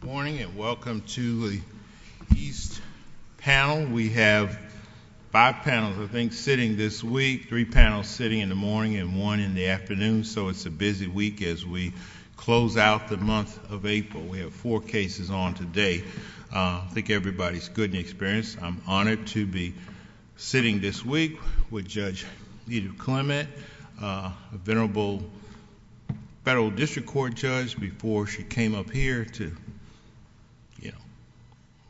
Good morning and welcome to the East panel. We have five panels, I think, sitting this week, three panels sitting in the morning and one in the afternoon, so it's a busy week as we close out the month of April. We have four cases on today. I think everybody's good and experienced. I'm honored to be sitting this week with Judge Edith Clement, a venerable federal district court judge before she came up here to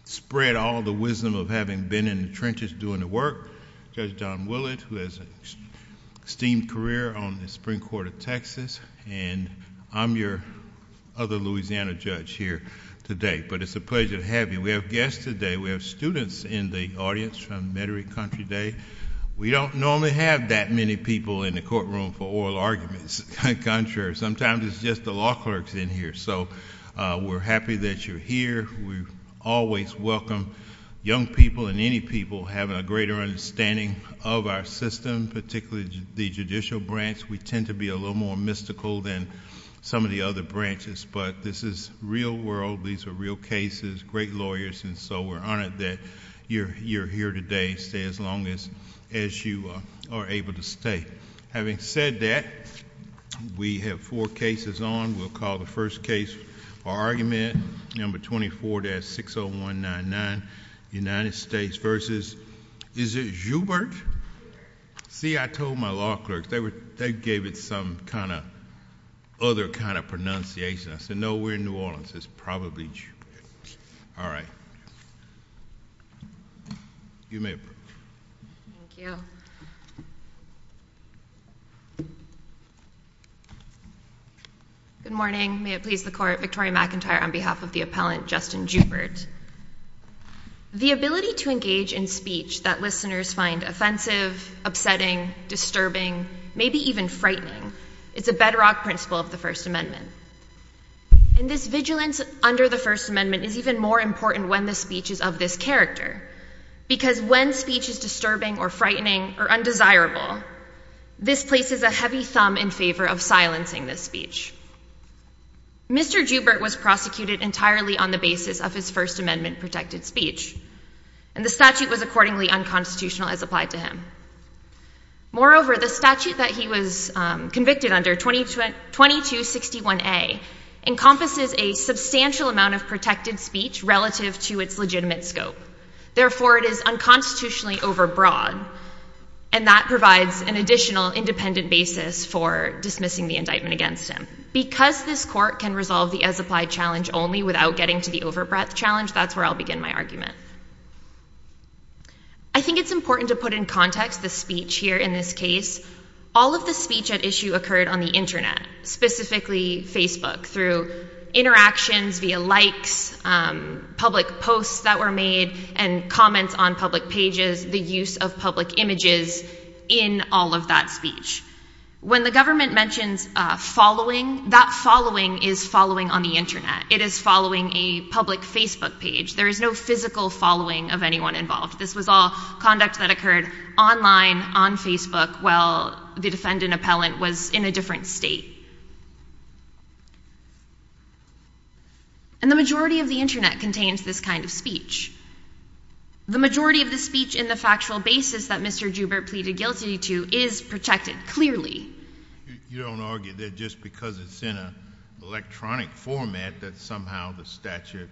spread all the wisdom of having been in the trenches doing the work, Judge Don Willett, who has an esteemed career on the Supreme Court of Texas, and I'm your other Louisiana judge here today, but it's a pleasure to have you. We have guests today. We have students in the audience from Metairie Country today. We don't normally have that many people in the courtroom for oral arguments. Contrary. Sometimes it's just the law clerks in here, so we're happy that you're here. We always welcome young people and any people having a greater understanding of our system, particularly the judicial branch. We tend to be a little more mystical than some of the other branches, but this is real world. These are real cases, great lawyers, and so we're honored that you're here today. Stay as long as you are able to stay. Having said that, we have four cases on. We'll call the first case, our argument, number 24-60199, United States versus, is it Joubert? See, I told my law clerks. They gave it some kind of other kind of pronunciation. I said, no, we're in New Orleans. It's probably Joubert. All right. You may approach. Thank you. Good morning. May it please the Court. Victoria McIntyre on behalf of the appellant, Justin Joubert. The ability to engage in speech that listeners find offensive, upsetting, disturbing, maybe even frightening, is a bedrock principle of the First Amendment. And this vigilance under the First Amendment is even more important when the speech is of this character, because when speech is disturbing or frightening or undesirable, this places a heavy thumb in favor of silencing the speech. Mr. Joubert was prosecuted entirely on the basis of his First Amendment protected speech, and the statute was accordingly unconstitutional as applied to him. Moreover, the statute that he was convicted under, 2261A, encompasses a substantial amount of protected speech relative to its legitimate scope. Therefore, it is unconstitutionally overbroad, and that provides an additional independent basis for dismissing the indictment against him. Because this Court can resolve the as-applied challenge only without getting to the overbreadth challenge, that's where I'll begin my argument. I think it's important to put in context the speech here in this case. All of the speech at issue occurred on the Internet, specifically Facebook, through interactions via likes, public posts that were made, and comments on public pages, the use of public images in all of that speech. When the government mentions following, that following is following on the Internet. It is following a public Facebook page. There is no physical following of anyone involved. This was all conduct that occurred online, on Facebook, while the defendant appellant was in a different state. And the majority of the Internet contains this kind of speech. The majority of the speech in the factual basis that Mr. Joubert pleaded guilty to is protected, clearly. You don't argue that just because it's in an electronic format that somehow the statute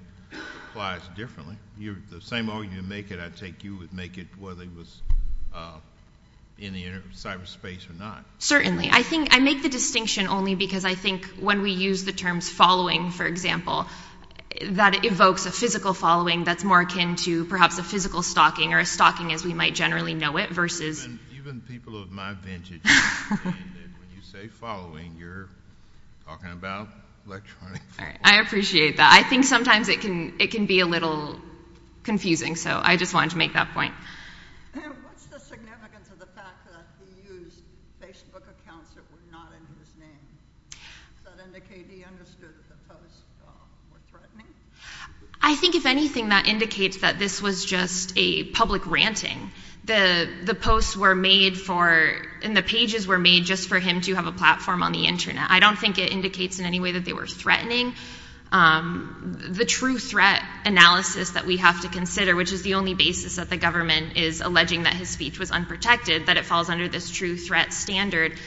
applies differently. The same argument you make, I take you would make it whether it was in the cyberspace or not. Certainly. I make the distinction only because I think when we use the terms following, for example, that evokes a physical following that's more akin to perhaps a physical stalking, or a stalking as we might generally know it, versus... Even people of my vintage, when you say following, you're talking about electronic. I appreciate that. I think sometimes it can be a little confusing, so I just wanted to make that point. What's the significance of the fact that he used Facebook accounts that were not under his name? Does that indicate he understood that the posts were threatening? I think if anything, that indicates that this was just a public ranting. The posts were made for, and the pages were made just for him to have a platform on the Internet. I don't think it indicates in any way that they were threatening. The true threat analysis that we have to consider, which is the only basis that the government is alleging that his speech was unprotected, that it falls under this true threat standard.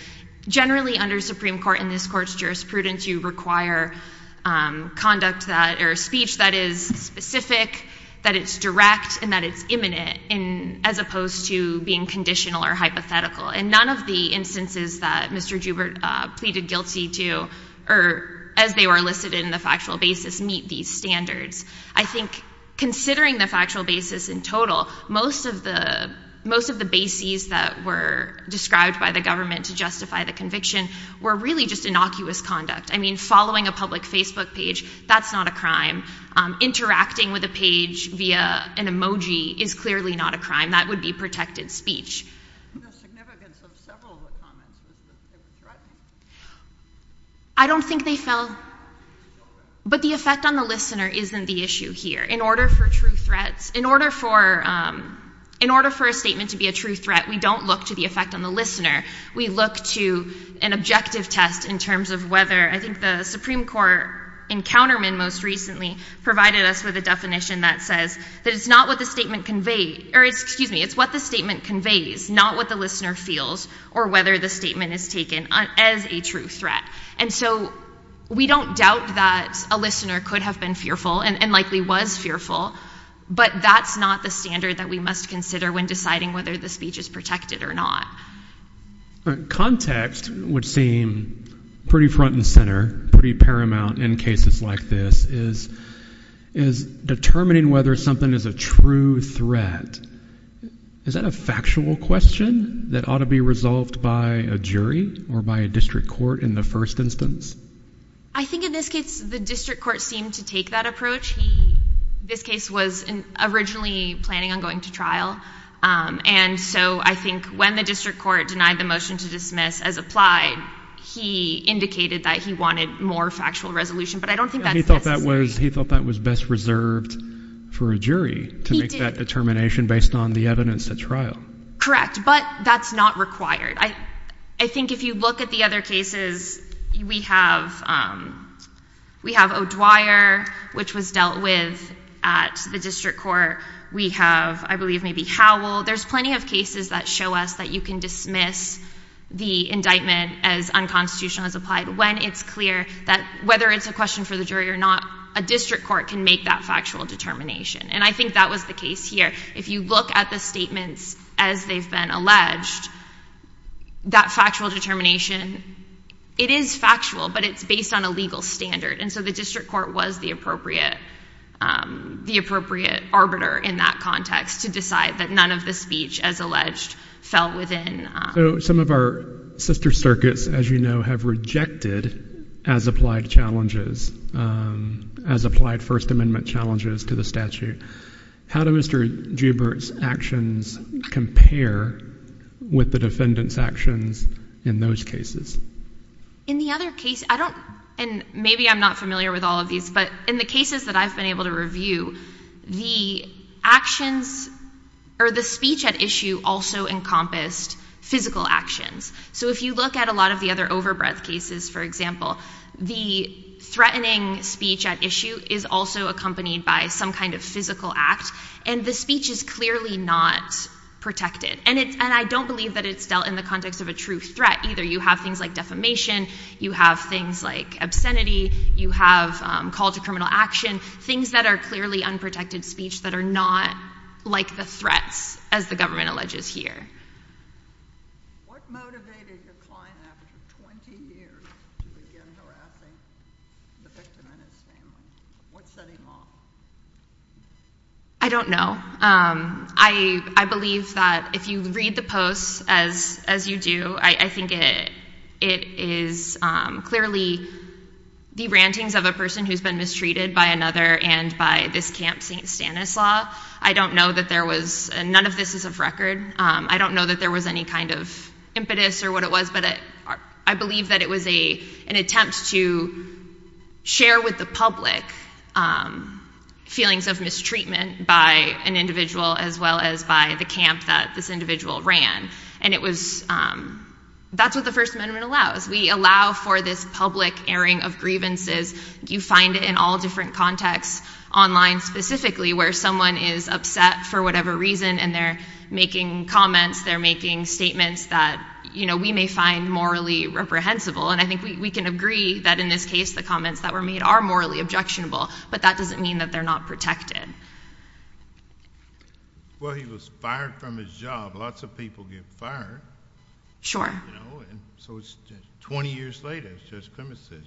Generally under Supreme Court and this Court's jurisprudence, you require speech that is specific, that it's direct, and that it's imminent, as opposed to being conditional or hypothetical. And none of the instances that Mr. Joubert pleaded guilty to, or as they were listed in the factual basis, meet these standards. I think considering the factual basis in total, most of the bases that were described by the government to justify the conviction were really just innocuous conduct. I mean, following a public Facebook page, that's not a crime. Interacting with a page via an emoji is clearly not a crime. That would be protected speech. The significance of several of the comments is that it was threatening. I don't think they fell. But the effect on the listener isn't the issue here. In order for a statement to be a true threat, we don't look to the effect on the listener. We look to an objective test in terms of whether, I think the Supreme Court encounterment most recently provided us with a definition that says that it's not what the statement conveys, not what the listener feels, or whether the statement is taken as a true threat. And so we don't doubt that a listener could have been fearful, and likely was fearful, but that's not the standard that we must consider when deciding whether the speech is protected or not. Context, which seems pretty front and center, pretty paramount in cases like this, is determining whether something is a true threat. Is that a factual question that ought to be resolved by a jury or by a district court in the first instance? I think in this case, the district court seemed to take that approach. This case was originally planning on going to trial, and so I think when the district court denied the motion to dismiss as applied, he indicated that he wanted more factual resolution, but I don't think that's necessary. He thought that was best reserved for a jury to make that determination based on the evidence at trial. Correct, but that's not required. I think if you look at the other cases, we have O'Dwyer, which was dealt with at the district court. We have, I believe, maybe Howell. There's plenty of cases that show us that you can dismiss the indictment as unconstitutional as applied when it's clear that whether it's a question for the jury or not, a district court can make that factual determination, and I think that was the case here. If you look at the statements as they've been alleged, that factual determination, it is factual, but it's based on a legal standard, and so the district court was the appropriate arbiter in that context to decide that none of the speech, as alleged, fell within. Some of our sister circuits, as you know, have rejected as applied challenges, as applied First Amendment challenges to the statute. How do Mr. Joubert's actions compare with the defendant's actions in those cases? In the other case, I don't, and maybe I'm not familiar with all of these, but in the cases that I've been able to review, the actions, or the speech at issue, also encompassed physical actions. So if you look at a lot of the other overbreath cases, for example, the threatening speech at issue is also accompanied by some kind of physical act, and the speech is clearly not protected, and I don't believe that it's dealt in the context of a true threat either. You have things like defamation, you have things like obscenity, you have call to criminal action, things that are clearly unprotected speech that are not like the threats, as the government alleges here. What motivated your client after 20 years to begin harassing the victim in his family? What set him off? I don't know. I believe that if you read the posts, as you do, I think it is clearly the rantings of a person who's been mistreated by another and by this Camp St. Stanislaus. I don't know that there was, and none of this is of record, I don't know that there was any kind of impetus or what it was, but I believe that it was an attempt to share with the public feelings of mistreatment by an individual as well as by the camp that this individual ran, and it was, that's what the First Amendment allows. We allow for this public airing of grievances. You find it in all different contexts online specifically where someone is upset for whatever reason, and they're making comments, they're making statements that we may find morally reprehensible, and I think we can agree that in this case the comments that were made are morally objectionable, but that doesn't mean that they're not protected. Well, he was fired from his job. Lots of people get fired. Sure. So it's 20 years later, as Judge Clements says,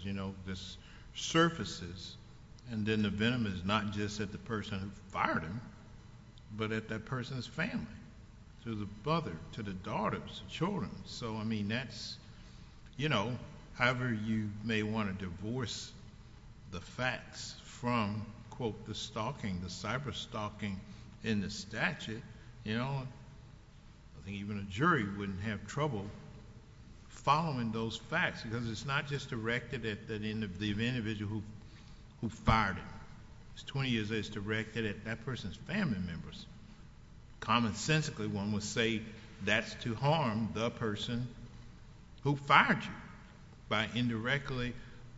this surfaces, and then the venom is not just at the person who fired him, but at that person's family, to the father, to the daughter, to the children. So, I mean, that's, you know, however you may want to divorce the facts from, quote, the stalking, the cyber-stalking in the statute, you know, I think even a jury wouldn't have trouble following those facts, because it's not just directed at the individual who fired him. It's 20 years later, it's directed at that family member. Common sensically, one would say that's to harm the person who fired him by indirectly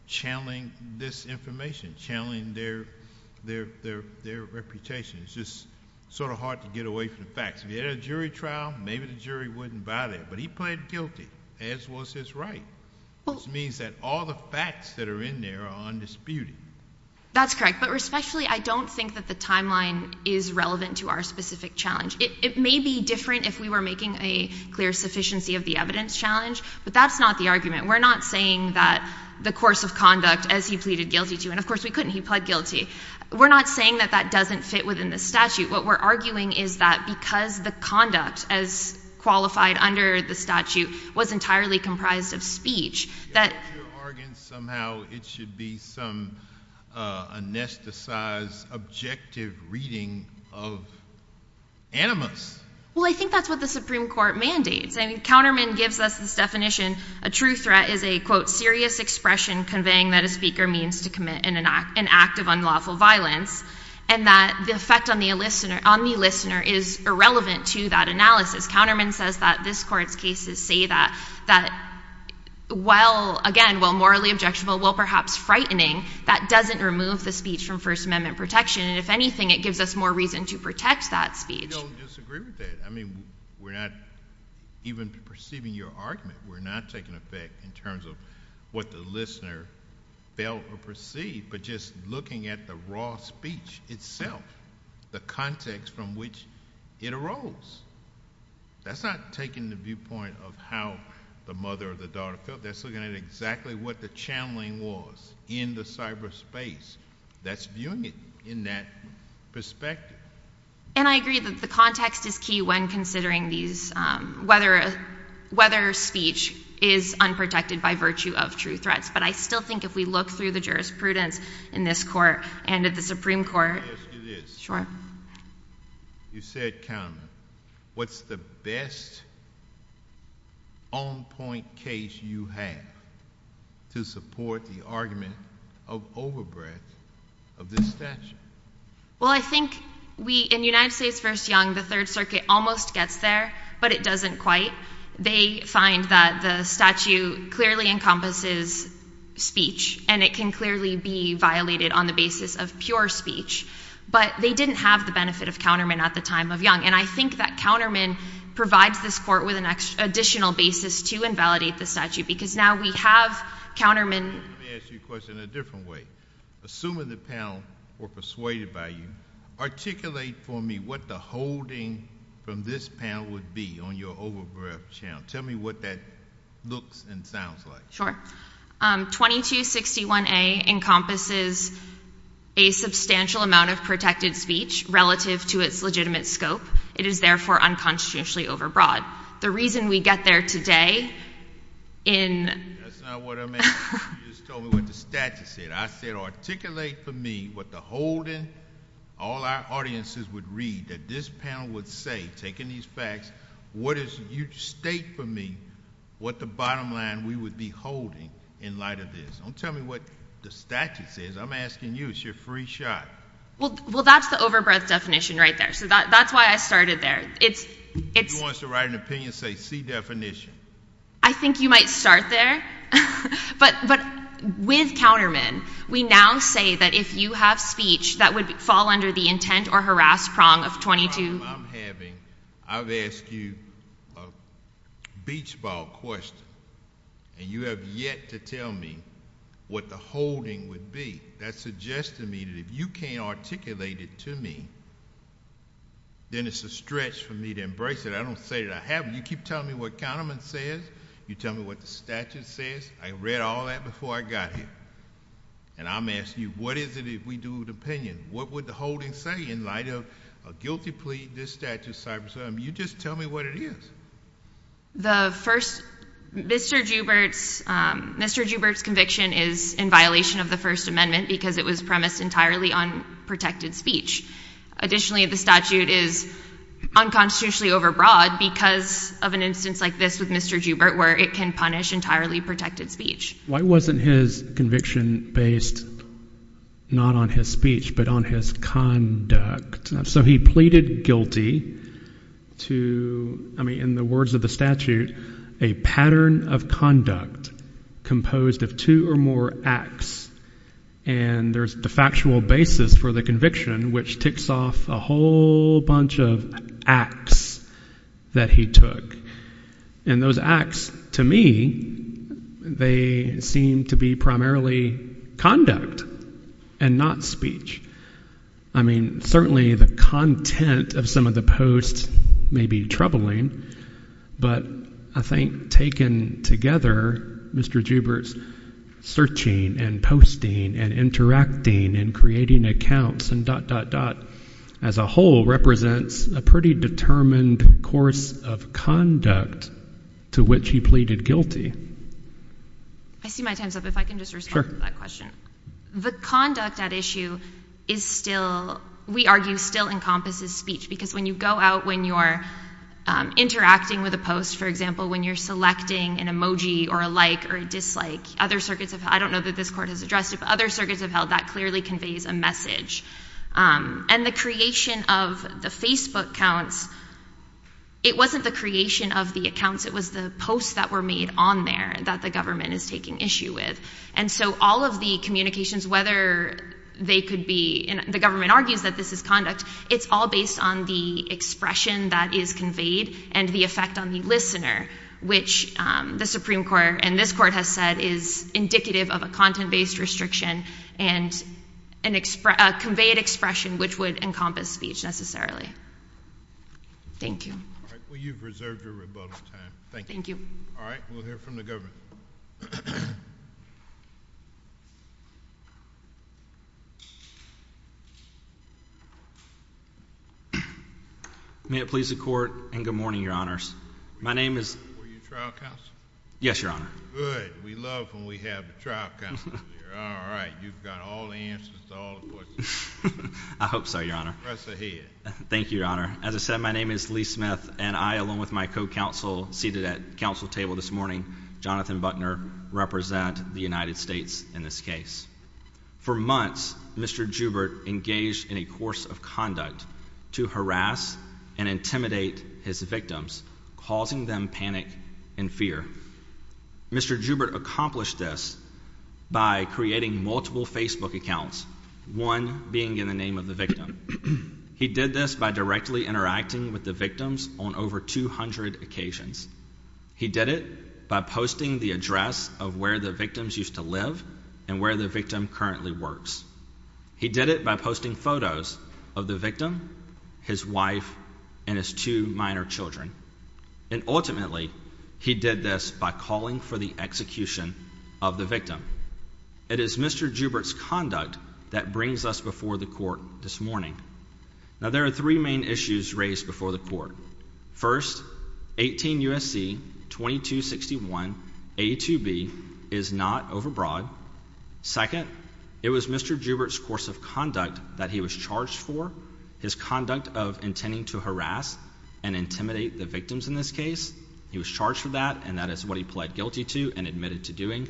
channeling this information, channeling their reputation. It's just sort of hard to get away from the facts. If you had a jury trial, maybe the jury wouldn't buy that, but he pleaded guilty, as was his right, which means that all the facts that are in there are undisputed. That's correct, but respectfully, I don't think that the timeline is relevant to our specific challenge. It may be different if we were making a clear sufficiency of the evidence challenge, but that's not the argument. We're not saying that the course of conduct as he pleaded guilty to, and of course we couldn't, he pled guilty, we're not saying that that doesn't fit within the statute. What we're arguing is that because the conduct as qualified under the statute was entirely comprised of speech, that... I think you're arguing somehow it should be some anesthetized, objective reading of animus. Well, I think that's what the Supreme Court mandates. I mean, Counterman gives us this definition, a true threat is a, quote, serious expression conveying that a speaker means to commit an act of unlawful violence, and that the effect on the listener is irrelevant to that analysis. Counterman says that this court's cases say that while, again, while morally objectionable, while perhaps frightening, that doesn't remove the speech from First Amendment protection, and if anything, it gives us more reason to protect that speech. We don't disagree with that. I mean, we're not even perceiving your argument. We're not taking effect in terms of what the listener felt or perceived, but just looking at the roles. That's not taking the viewpoint of how the mother or the daughter felt. That's looking at exactly what the channeling was in the cyberspace. That's viewing it in that perspective. And I agree that the context is key when considering these, whether speech is unprotected by virtue of true threats, but I still think if we look through the jurisprudence in this court and at the Supreme Court... Yes, it is. Sure. You said counterman. What's the best on-point case you have to support the argument of overbreadth of this statute? Well, I think we, in United States v. Young, the Third Circuit almost gets there, but it doesn't quite. They find that the statute clearly encompasses speech, and it can clearly be violated on the basis of pure speech, but they didn't have the benefit of counterman at the time of Young, and I think that counterman provides this court with an additional basis to invalidate the statute, because now we have counterman... Let me ask you a question in a different way. Assuming the panel were persuaded by you, articulate for me what the holding from this panel would be on your overbreadth channel. Tell me what that looks and sounds like. Sure. 2261A encompasses a substantial amount of protected speech relative to its legitimate scope. It is, therefore, unconstitutionally overbroad. The reason we get there today in... That's not what I meant. You just told me what the statute said. I said articulate for me what the holding, all our audiences would read, that this panel would say, taking these facts, state for me what the bottom line we would be holding in light of this. Don't tell me what the statute says. I'm asking you. It's your free shot. Well, that's the overbreadth definition right there, so that's why I started there. If you want to write an opinion, say, see definition. I think you might start there, but with counterman, we now say that if you have speech that would fall under the intent or harass prong of 22... The problem I'm having, I've asked you a beach ball question, and you have yet to tell me what the holding would be. That suggested to me that if you can't articulate it to me, then it's a stretch for me to embrace it. I don't say that I have it. You keep telling me what counterman says. You tell me what the statute says. I read all that before I got here, and I'm asking you, what is it if we do an opinion? What would the holding say in light of a guilty plea, this statute, cyber-syndrome? You just tell me what it is. The first, Mr. Joubert's conviction is in violation of the First Amendment because it was premised entirely on protected speech. Additionally, the statute is unconstitutionally overbroad because of an instance like this with Mr. Joubert where it can punish entirely protected speech. Why wasn't his conviction based not on his speech but on his conduct? He pleaded guilty to, in the words of the statute, a pattern of conduct composed of two or more acts. There's the factual basis for the conviction, which ticks off a whole bunch of acts that he took. And those acts, to me, they seem to be primarily conduct and not speech. I mean, certainly the content of some of the posts may be troubling, but I think taken together, Mr. Joubert's searching and posting and interacting and creating accounts and dot, dot, dot as a whole represents a pretty determined course of conduct to which he pleaded guilty. I see my time's up. If I can just respond to that question. The conduct at issue is still, we argue, still encompasses speech because when you go out when you're interacting with a post, for example, when you're selecting an emoji or a like or a dislike, other circuits have, I don't know that this court has addressed it, but other than the creation of the Facebook accounts, it wasn't the creation of the accounts, it was the posts that were made on there that the government is taking issue with. And so all of the communications, whether they could be, and the government argues that this is conduct, it's all based on the expression that is conveyed and the effect on the listener, which the Supreme Court and this court has said is indicative of a content-based restriction and a conveyed expression which would encompass speech necessarily. Thank you. All right. Well, you've reserved your rebuttal time. Thank you. Thank you. All right. We'll hear from the government. May it please the Court and good morning, Your Honors. My name is... Were you trial counsel? Yes, Your Honor. Good. We love when we have a trial counsel here. All right. You've got all the answers to all the questions. I hope so, Your Honor. Press ahead. Thank you, Your Honor. As I said, my name is Lee Smith, and I, along with my co-counsel seated at the counsel table this morning, Jonathan Buckner, represent the United States in this case. For months, Mr. Joubert engaged in a course of conduct to harass and intimidate his victims, causing them panic and fear. Mr. Joubert accomplished this by creating multiple Facebook accounts, one being in the name of the victim. He did this by directly interacting with the victims on over 200 occasions. He did it by posting the address of where the victims used to live and where the victim currently works. He did it by posting photos of the victim, his wife, and his two minor children. And, ultimately, he did this by calling for the execution of the victim. It is Mr. Joubert's conduct that brings us before the court this morning. Now, there are three main issues raised before the court. First, 18 U.S.C. 2261 A2B is not overbroad. Second, it was Mr. Joubert's course of conduct that he was charged for, his conduct of intending to harass and intimidate the victims in this case. He was charged for that, and that is what he pled guilty to and admitted to doing.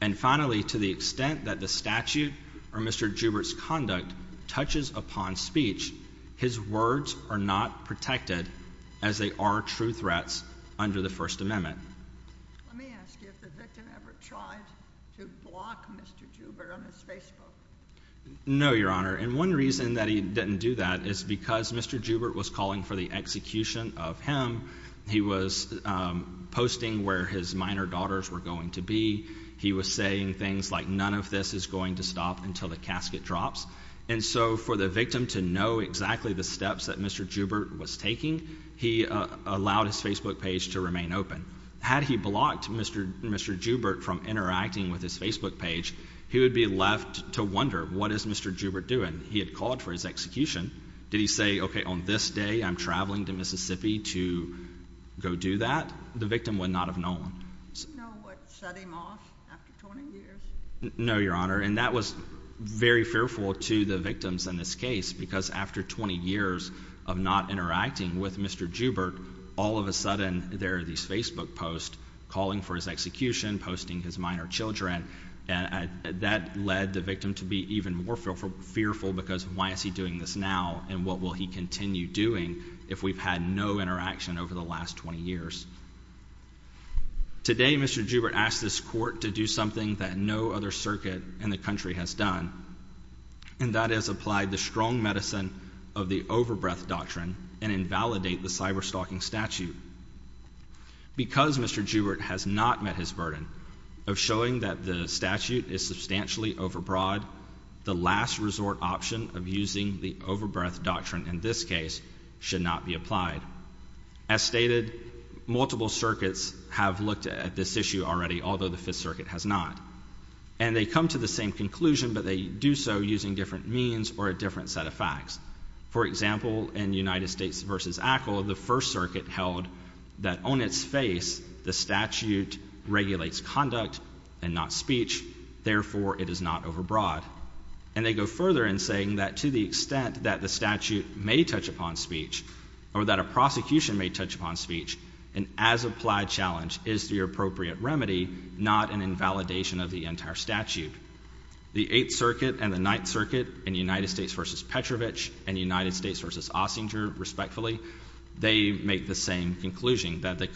And, finally, to the extent that the statute or Mr. Joubert's conduct touches upon speech, his words are not protected, as they are true threats under the First Amendment. Let me One reason that he didn't do that is because Mr. Joubert was calling for the execution of him. He was posting where his minor daughters were going to be. He was saying things like none of this is going to stop until the casket drops. And so, for the victim to know exactly the steps that Mr. Joubert was taking, he allowed his Facebook page to remain open. Had he blocked Mr. Joubert from interacting with his Facebook page, he would be left to wonder, what is Mr. Joubert doing? He had called for his execution. Did he say, okay, on this day I'm traveling to Mississippi to go do that? The victim would not have known. Do you know what shut him off after 20 years? No, Your Honor, and that was very fearful to the victims in this case, because after 20 years of not interacting with Mr. Joubert, all of a sudden there are these Facebook posts calling for his execution, posting his minor children, and that led the victim to be even more fearful, because why is he doing this now, and what will he continue doing if we've had no interaction over the last 20 years? Today, Mr. Joubert asked this court to do something that no other circuit in the country has done, and that is apply the strong medicine of the overbreath doctrine and invalidate the cyberstalking statute. Because Mr. Joubert has not met his burden of showing that the statute is substantially overbroad, the last resort option of using the overbreath doctrine in this case should not be applied. As stated, multiple circuits have looked at this issue already, although the Fifth Circuit has not, and they come to the same conclusion, but they do so using different means or a different set of facts. For example, in United States v. Ackle, the First Circuit held that on its face the statute regulates conduct and not speech, therefore it is not overbroad. And they go further in saying that to the extent that the statute may touch upon speech, or that a prosecution may touch upon speech, an as-applied challenge is the appropriate remedy, not an invalidation of the entire statute. The Eighth Circuit and the Ninth Circuit in United States v. Petrovich and United States v. Ossinger, respectfully, they make the same conclusion, that the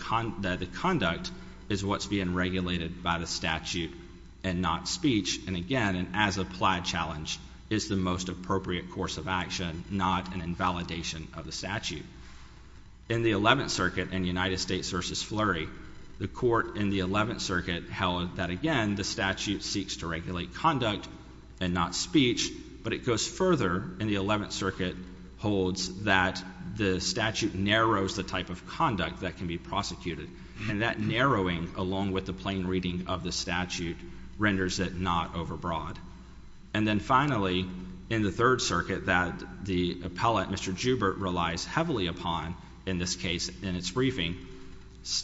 conduct is what's being regulated by the statute and not speech, and again, an as-applied challenge is the most appropriate course of action, not an invalidation of the statute. In the Eleventh Circuit and United States v. Fleury, the Court in the Eleventh Circuit held that again, the statute seeks to regulate conduct and not speech, but it goes further in the Eleventh Circuit holds that the statute narrows the type of conduct that can be prosecuted, and that narrowing, along with the plain reading of the statute, renders it not overbroad. And then finally, in the Third Circuit, that the appellate, Mr. Joubert, relies heavily upon, in this case, in its briefing,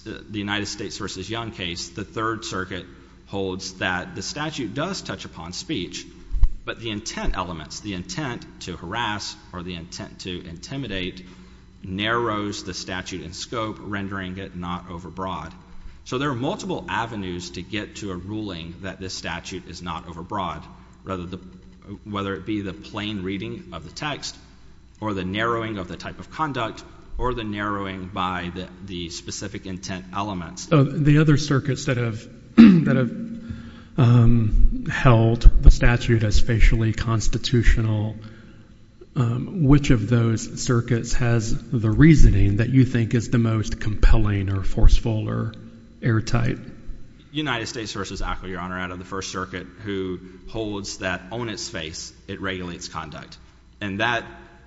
the United States v. Young case, the Third Circuit holds that the statute does touch upon speech, but the intent elements, the intent to harass or the intent to intimidate, narrows the statute in scope, rendering it not overbroad. So there are multiple avenues to get to a ruling that this statute is not overbroad, whether it be the plain reading of the text, or the narrowing of the type of conduct, or the narrowing by the specific intent elements. The other circuits that have held the statute as facially constitutional, which of those circuits has the reasoning that you think is the most compelling or forceful or airtight? United States v. Ackley, Your Honor, out of the First Circuit, who holds that on its face, it regulates conduct. And that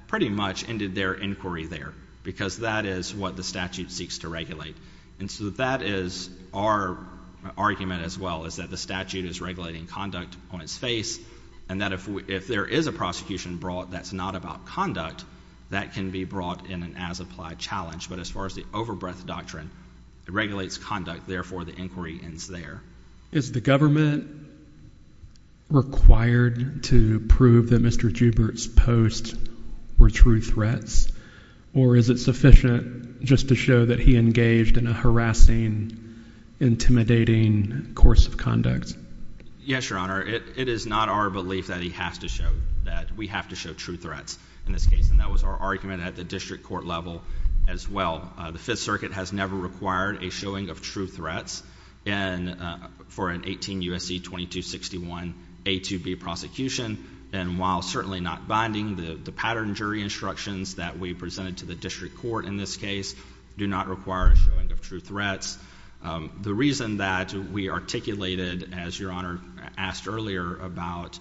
pretty much ended their inquiry there, because that is what the statute seeks to regulate. And so that is our argument as well, is that the statute is regulating conduct on its face, and that if there is a prosecution brought that's not about conduct, that can be brought in an as-applied challenge. But as far as the overbreadth doctrine, it regulates conduct, therefore the inquiry ends there. Is the government required to prove that Mr. Joubert's posts were true threats? Or is it sufficient just to show that he engaged in a harassing, intimidating course of conduct? Yes, Your Honor. It is not our belief that he has to show that. We have to show true threats in this case. And that was our argument at the district court level as well. The Fifth Circuit has never required a showing of true threats for an 18 U.S.C. 2261 A2B prosecution. And while certainly not binding, the pattern jury instructions that we presented to the district court in this case do not require a showing of true threats. The reason that we articulated, as Your Honor asked earlier, about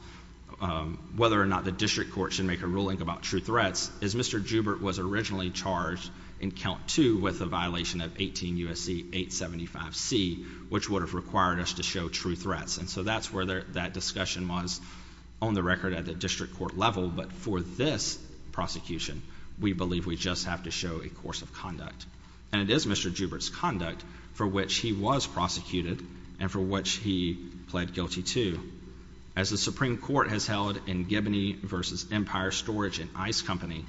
whether or not the district court should make a ruling about true threats is Mr. Joubert was originally charged in count two with a violation of 18 U.S.C. 875C, which would have required us to show true threats. And so that's where that discussion was on the record at the district court level. But for this prosecution, we believe we just have to show a course of conduct. And it is Mr. Joubert's conduct for which he was prosecuted and for which he pled guilty to. As the Supreme Court has held in Gibney v. Empire Storage and Ice Company,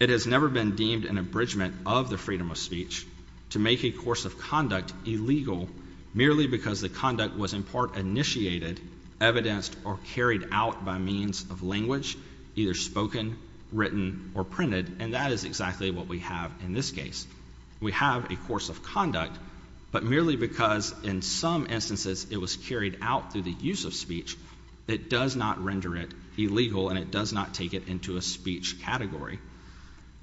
it has never been deemed an abridgment of the freedom of speech to make a course of conduct illegal merely because the conduct was in part initiated, evidenced, or carried out by means of language, either spoken, written, or printed. And that is exactly what we have in this case. We have a course of conduct, but merely because in some instances it was carried out through the use of speech, it does not render it illegal and it does not take it into a speech category.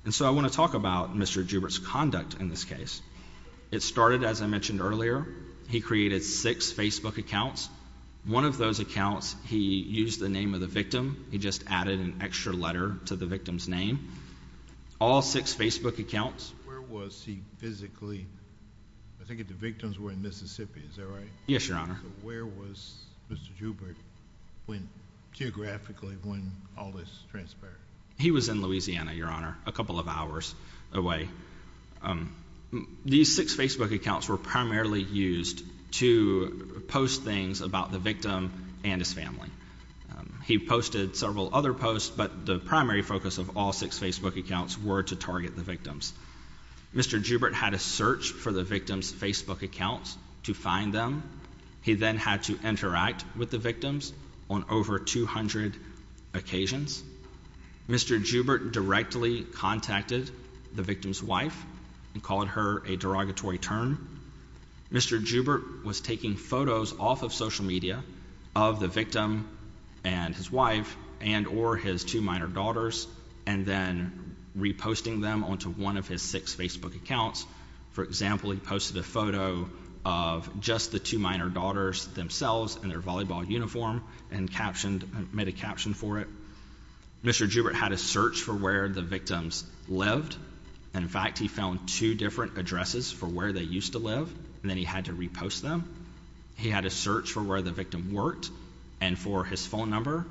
And so I want to talk about Mr. Joubert's conduct in this case. It started, as I mentioned earlier, he created six Facebook accounts. One of those accounts he used the name of the victim. He just added an extra letter to the victim's name. All six Facebook accounts. Where was he physically? I think the victims were in Mississippi, is that right? Yes, Your Honor. Where was Mr. Joubert geographically when all this transpired? He was in Louisiana, Your Honor, a couple of hours away. These six Facebook accounts were primarily used to post things about the victim and his family. He posted several other posts, but the primary focus of all six Facebook accounts were to target the victims. Mr. Joubert had to search for the victims' Facebook accounts to find them. He then had to interact with the victims on over 200 occasions. Mr. Joubert directly contacted the victim's wife and called her a derogatory term. Mr. Joubert was taking photos off of social media of the victim and his wife and or his two minor daughters and then reposting them onto one of his six Facebook accounts. For example, he posted a photo of just the two minor daughters themselves in their volleyball uniform and made a caption for it. Mr. Joubert had to search for where the victims lived. In fact, he found two different addresses for where they used to live, and then he had to repost them. He had to search for where the victim worked and for his phone number,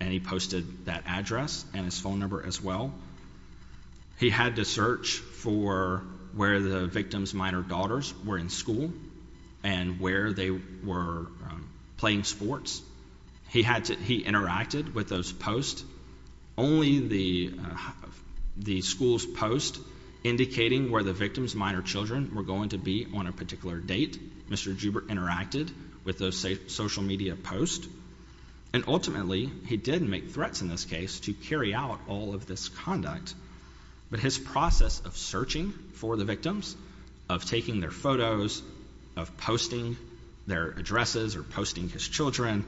and he posted that address and his phone number as well. He had to search for where the victims' minor daughters were in school and where they were playing sports. He interacted with those posts. Only the school's post indicating where the victims' minor children were going to be on a particular date, Mr. Joubert interacted with those social media posts. And ultimately, he did make threats in this case to carry out all of this conduct. But his process of searching for the victims, of taking their photos, of posting their addresses or posting his children,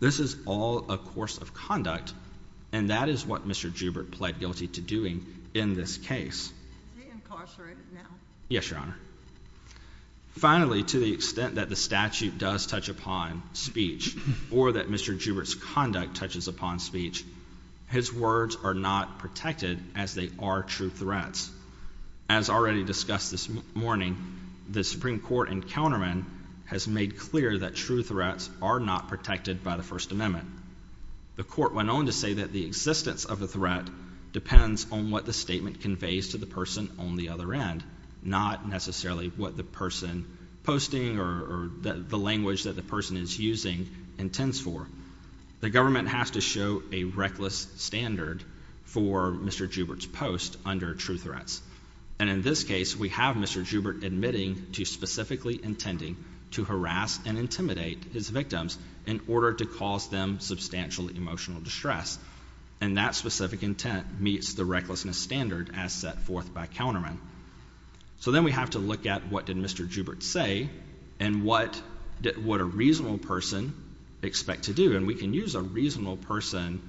this is all a course of conduct, and that is what Mr. Joubert pled guilty to doing in this case. Reincarcerated now? Yes, Your Honor. Finally, to the extent that the statute does touch upon speech or that Mr. Joubert's conduct touches upon speech, his words are not protected as they are true threats. As already discussed this morning, the Supreme Court and countermen has made clear that true threats are not protected by the First Amendment. The court went on to say that the existence of a threat depends on what the statement conveys to the person on the other end, not necessarily what the person posting or the language that the person is using intends for. The government has to show a reckless standard for Mr. Joubert's post under true threats. And in this case, we have Mr. Joubert admitting to specifically intending to harass and intimidate his victims in order to cause them substantial emotional distress. And that specific intent meets the recklessness standard as set forth by countermen. So then we have to look at what did Mr. Joubert say and what would a reasonable person expect to do? And we can use a reasonable person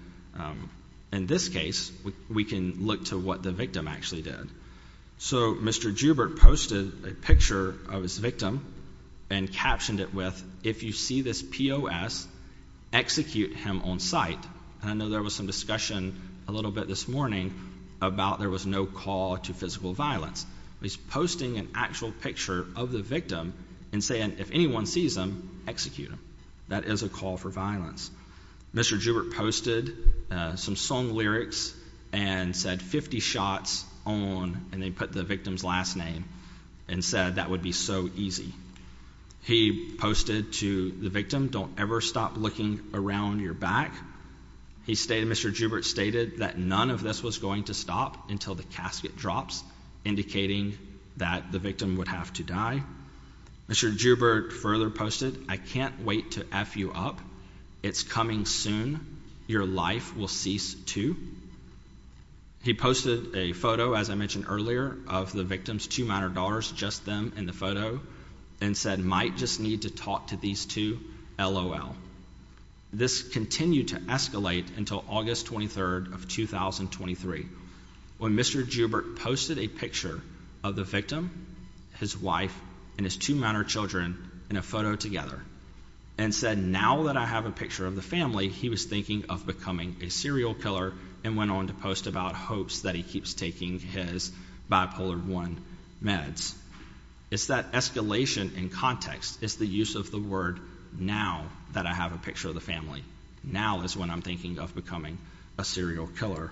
in this case. We can look to what the victim actually did. So Mr. Joubert posted a picture of his victim and captioned it with, if you see this POS, execute him on sight. And I know there was some discussion a little bit this morning about there was no call to physical violence. He's posting an actual picture of the victim and saying, if anyone sees him, execute him. That is a call for violence. Mr. Joubert posted some song lyrics and said, 50 shots on, and they put the victim's last name and said that would be so easy. He posted to the victim, don't ever stop looking around your back. Mr. Joubert stated that none of this was going to stop until the casket drops, indicating that the victim would have to die. Mr. Joubert further posted, I can't wait to F you up. It's coming soon. Your life will cease too. He posted a photo, as I mentioned earlier, of the victim's two minor daughters, just them in the photo, and said, might just need to talk to these two, LOL. This continued to escalate until August 23rd of 2023, when Mr. Joubert posted a picture of the victim, his wife, and his two minor children in a photo together, and said, now that I have a picture of the family, he was thinking of becoming a serial killer, and went on to post about hopes that he keeps taking his Bipolar I meds. It's that escalation in context. It's the use of the word now that I have a picture of the family. Now is when I'm thinking of becoming a serial killer.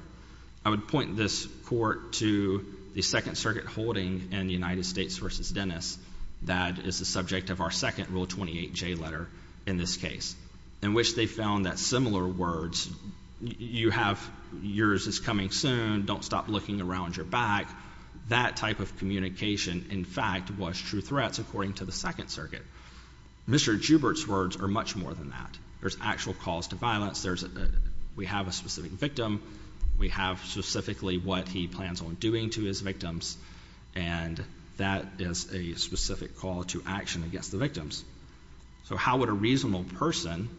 I would point this court to the Second Circuit holding in the United States v. Dennis that is the subject of our second Rule 28J letter in this case, in which they found that similar words, you have yours is coming soon, don't stop looking around your back, that type of communication, in fact, was true threats according to the Second Circuit. Mr. Joubert's words are much more than that. There's actual calls to violence. We have a specific victim. We have specifically what he plans on doing to his victims, and that is a specific call to action against the victims. So how would a reasonable person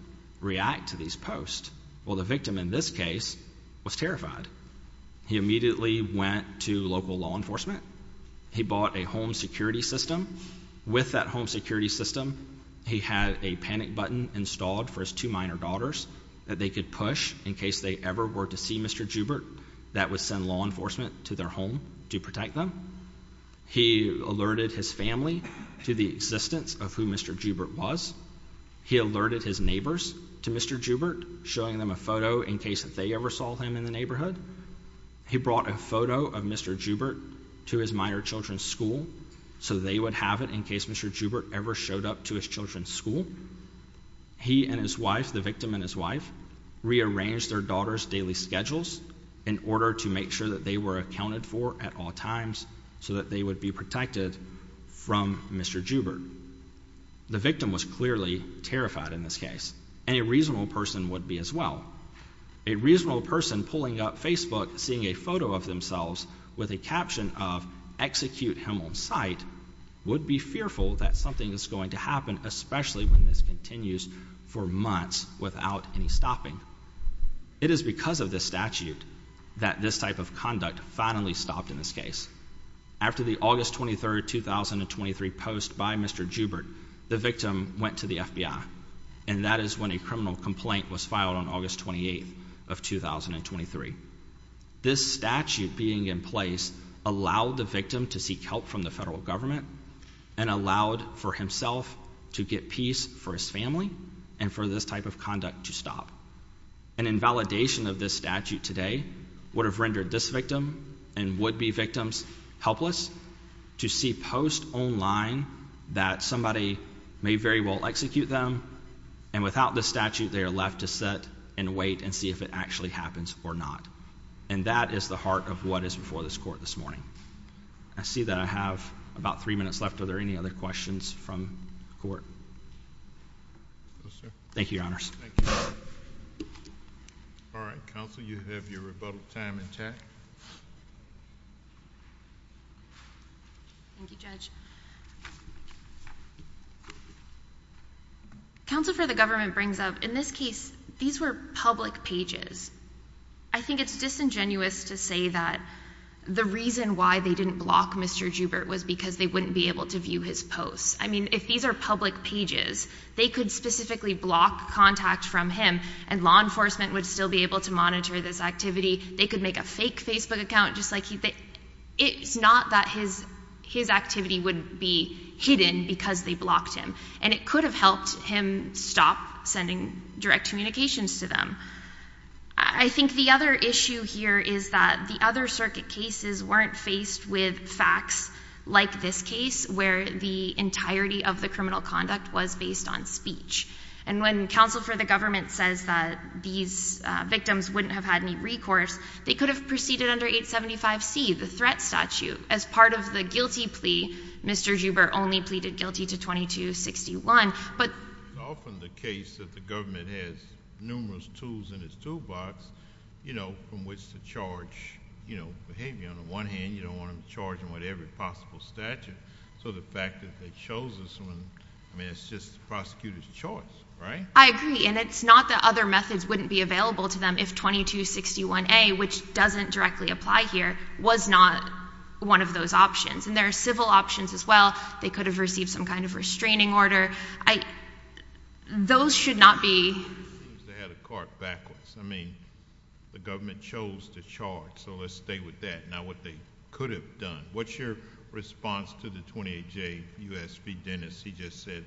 react to these posts? Well, the victim in this case was terrified. He immediately went to local law enforcement. He bought a home security system. With that home security system, he had a panic button installed for his two minor daughters that they could push in case they ever were to see Mr. Joubert. That would send law enforcement to their home to protect them. He alerted his family to the existence of who Mr. Joubert was. He alerted his neighbors to Mr. Joubert, showing them a photo in case they ever saw him in the neighborhood. He brought a photo of Mr. Joubert to his minor children's school so they would have it in case Mr. Joubert ever showed up to his children's school. He and his wife, the victim and his wife, rearranged their daughters' daily schedules in order to make sure that they were accounted for at all times so that they would be protected from Mr. Joubert. The victim was clearly terrified in this case, and a reasonable person would be as well. A reasonable person pulling up Facebook, seeing a photo of themselves with a caption of would be fearful that something is going to happen, especially when this continues for months without any stopping. It is because of this statute that this type of conduct finally stopped in this case. After the August 23, 2023 post by Mr. Joubert, the victim went to the FBI, and that is when a criminal complaint was filed on August 28, 2023. This statute being in place allowed the victim to seek help from the federal government and allowed for himself to get peace for his family and for this type of conduct to stop. An invalidation of this statute today would have rendered this victim and would-be victims helpless to see posts online that somebody may very well execute them, and without this statute they are left to sit and wait and see if it actually happens or not, and that is the heart of what is before this court this morning. I see that I have about three minutes left. Are there any other questions from the court? Thank you, Your Honors. All right, Counsel, you have your rebuttal time in check. Thank you, Judge. Counsel, for the government brings up, in this case, these were public pages. I think it's disingenuous to say that the reason why they didn't block Mr. Joubert was because they wouldn't be able to view his posts. I mean, if these are public pages, they could specifically block contact from him, and law enforcement would still be able to monitor this activity. They could make a fake Facebook account, just like he did. It's not that his activity would be hidden because they blocked him, and it could have helped him stop sending direct communications to them. I think the other issue here is that the other circuit cases weren't faced with facts like this case, where the entirety of the criminal conduct was based on speech, and when counsel for the government says that these victims wouldn't have had any recourse, they could have proceeded under 875C, the threat statute, as part of the guilty plea. Mr. Joubert only pleaded guilty to 2261. It's often the case that the government has numerous tools in its toolbox from which to charge behavior. On the one hand, you don't want them charging with every possible statute, so the fact that they chose this one, I mean, it's just the prosecutor's choice, right? I agree, and it's not that other methods wouldn't be available to them if 2261A, which doesn't directly apply here, was not one of those options. And there are civil options as well. They could have received some kind of restraining order. Those should not be. It seems they had a cart backwards. I mean, the government chose to charge, so let's stay with that. Now what they could have done. What's your response to the 28J U.S. v. Dennis? He just said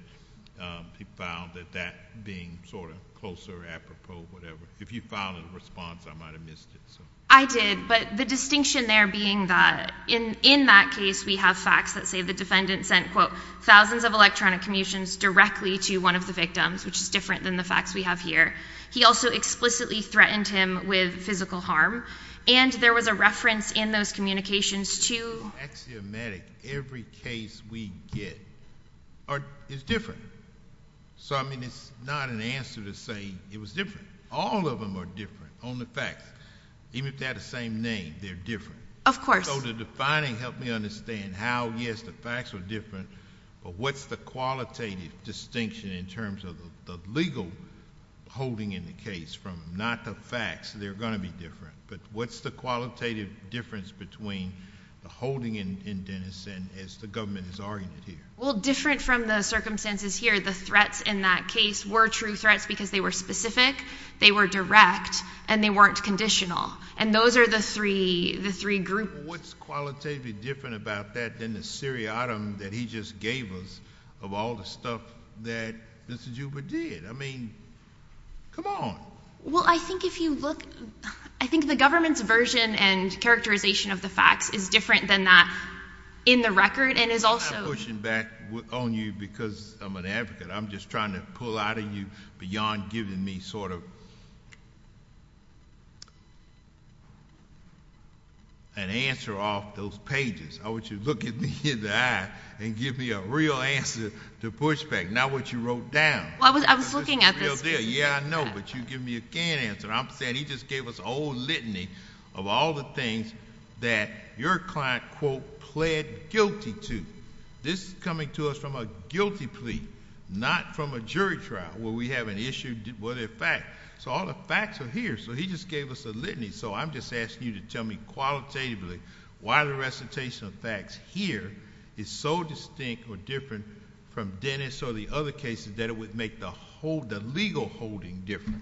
he found that that being sort of closer, apropos, whatever. If you found a response, I might have missed it. I did, but the distinction there being that in that case, we have facts that say the defendant sent, quote, thousands of electronic commissions directly to one of the victims, which is different than the facts we have here. He also explicitly threatened him with physical harm, and there was a reference in those communications to. In the axiomatic, every case we get is different. So, I mean, it's not an answer to say it was different. All of them are different, only facts. Even if they had the same name, they're different. Of course. So the defining helped me understand how, yes, the facts are different, but what's the qualitative distinction in terms of the legal holding in the case from not the facts, they're going to be different, but what's the qualitative difference between the holding in Dennis and as the government has argued here? Well, different from the circumstances here, the threats in that case were true threats because they were specific, they were direct, and they weren't conditional. And those are the three groups. What's qualitatively different about that than the seriatim that he just gave us of all the stuff that Mr. Juba did? I mean, come on. Well, I think if you look, I think the government's version and characterization of the facts is different than that in the record and is also – I'm not pushing back on you because I'm an advocate. I'm just trying to pull out of you beyond giving me sort of an answer off those pages. I want you to look me in the eye and give me a real answer to push back, not what you wrote down. I was looking at this. Yeah, I know, but you give me a can answer. I'm saying he just gave us old litany of all the things that your client, quote, pled guilty to. This is coming to us from a guilty plea, not from a jury trial where we have an issue with a fact. So all the facts are here. So he just gave us a litany. So I'm just asking you to tell me qualitatively why the recitation of facts here is so distinct or different from Dennis or the other cases that it would make the legal holding different.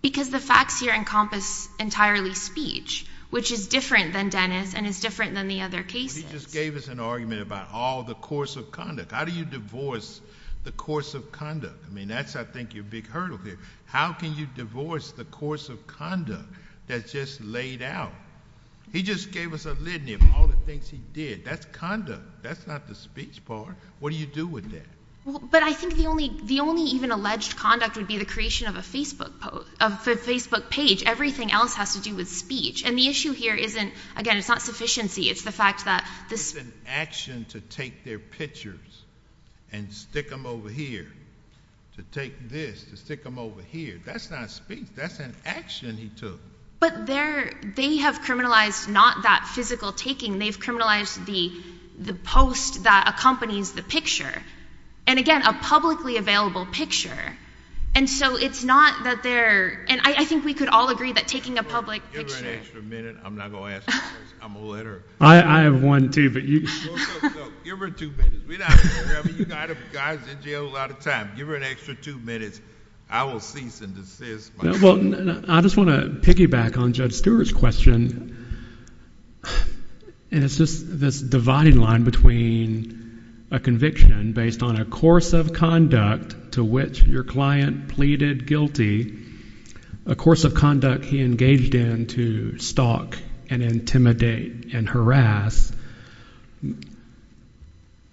Because the facts here encompass entirely speech, which is different than Dennis and is different than the other cases. But he just gave us an argument about all the course of conduct. How do you divorce the course of conduct? I mean, that's, I think, your big hurdle here. How can you divorce the course of conduct that's just laid out? He just gave us a litany of all the things he did. That's conduct. That's not the speech part. What do you do with that? But I think the only even alleged conduct would be the creation of a Facebook page. Everything else has to do with speech. And the issue here isn't, again, it's not sufficiency. It's the fact that this is an action to take their pictures and stick them over here, to take this, to stick them over here. That's not speech. That's an action he took. But they have criminalized not that physical taking. They've criminalized the post that accompanies the picture. And, again, a publicly available picture. And so it's not that they're – and I think we could all agree that taking a public picture – Give her an extra minute. I'm not going to ask a question. I'm a letter. I have one too, but you – No, no, no. Give her two minutes. We're not – I mean, you guys are in jail a lot of time. Give her an extra two minutes. I will cease and desist. Well, I just want to piggyback on Judge Stewart's question. And it's just this dividing line between a conviction based on a course of conduct to which your client pleaded guilty, a course of conduct he engaged in to stalk and intimidate and harass.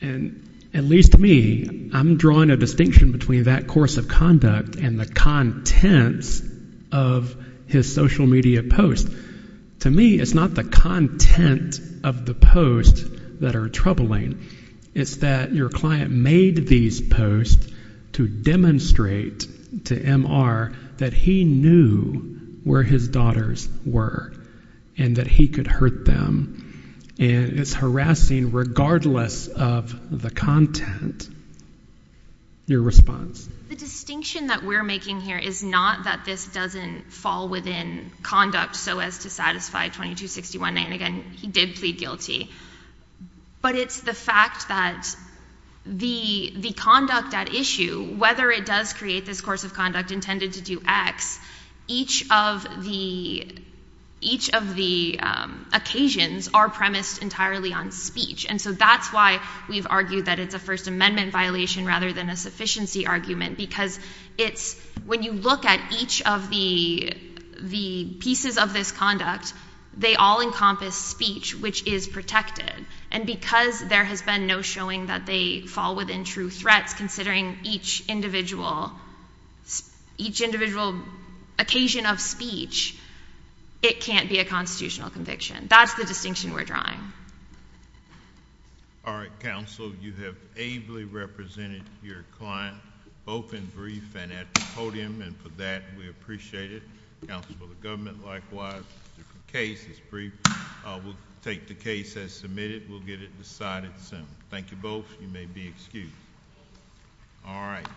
And, at least to me, I'm drawing a distinction between that course of conduct and the contents of his social media posts. To me, it's not the content of the posts that are troubling. It's that your client made these posts to demonstrate to MR that he knew where his daughters were and that he could hurt them. And it's harassing regardless of the content, your response. The distinction that we're making here is not that this doesn't fall within conduct so as to satisfy 2261A. And, again, he did plead guilty. But it's the fact that the conduct at issue, whether it does create this course of conduct intended to do X, each of the occasions are premised entirely on speech. And so that's why we've argued that it's a First Amendment violation rather than a sufficiency argument because when you look at each of the pieces of this conduct, they all encompass speech, which is protected. And because there has been no showing that they fall within true threats, considering each individual occasion of speech, it can't be a constitutional conviction. That's the distinction we're drawing. All right, counsel. You have ably represented your client, both in brief and at the podium, and for that we appreciate it. Counsel for the government, likewise. The case is brief. We'll take the case as submitted. We'll get it decided soon. Thank you both. You may be excused. All right.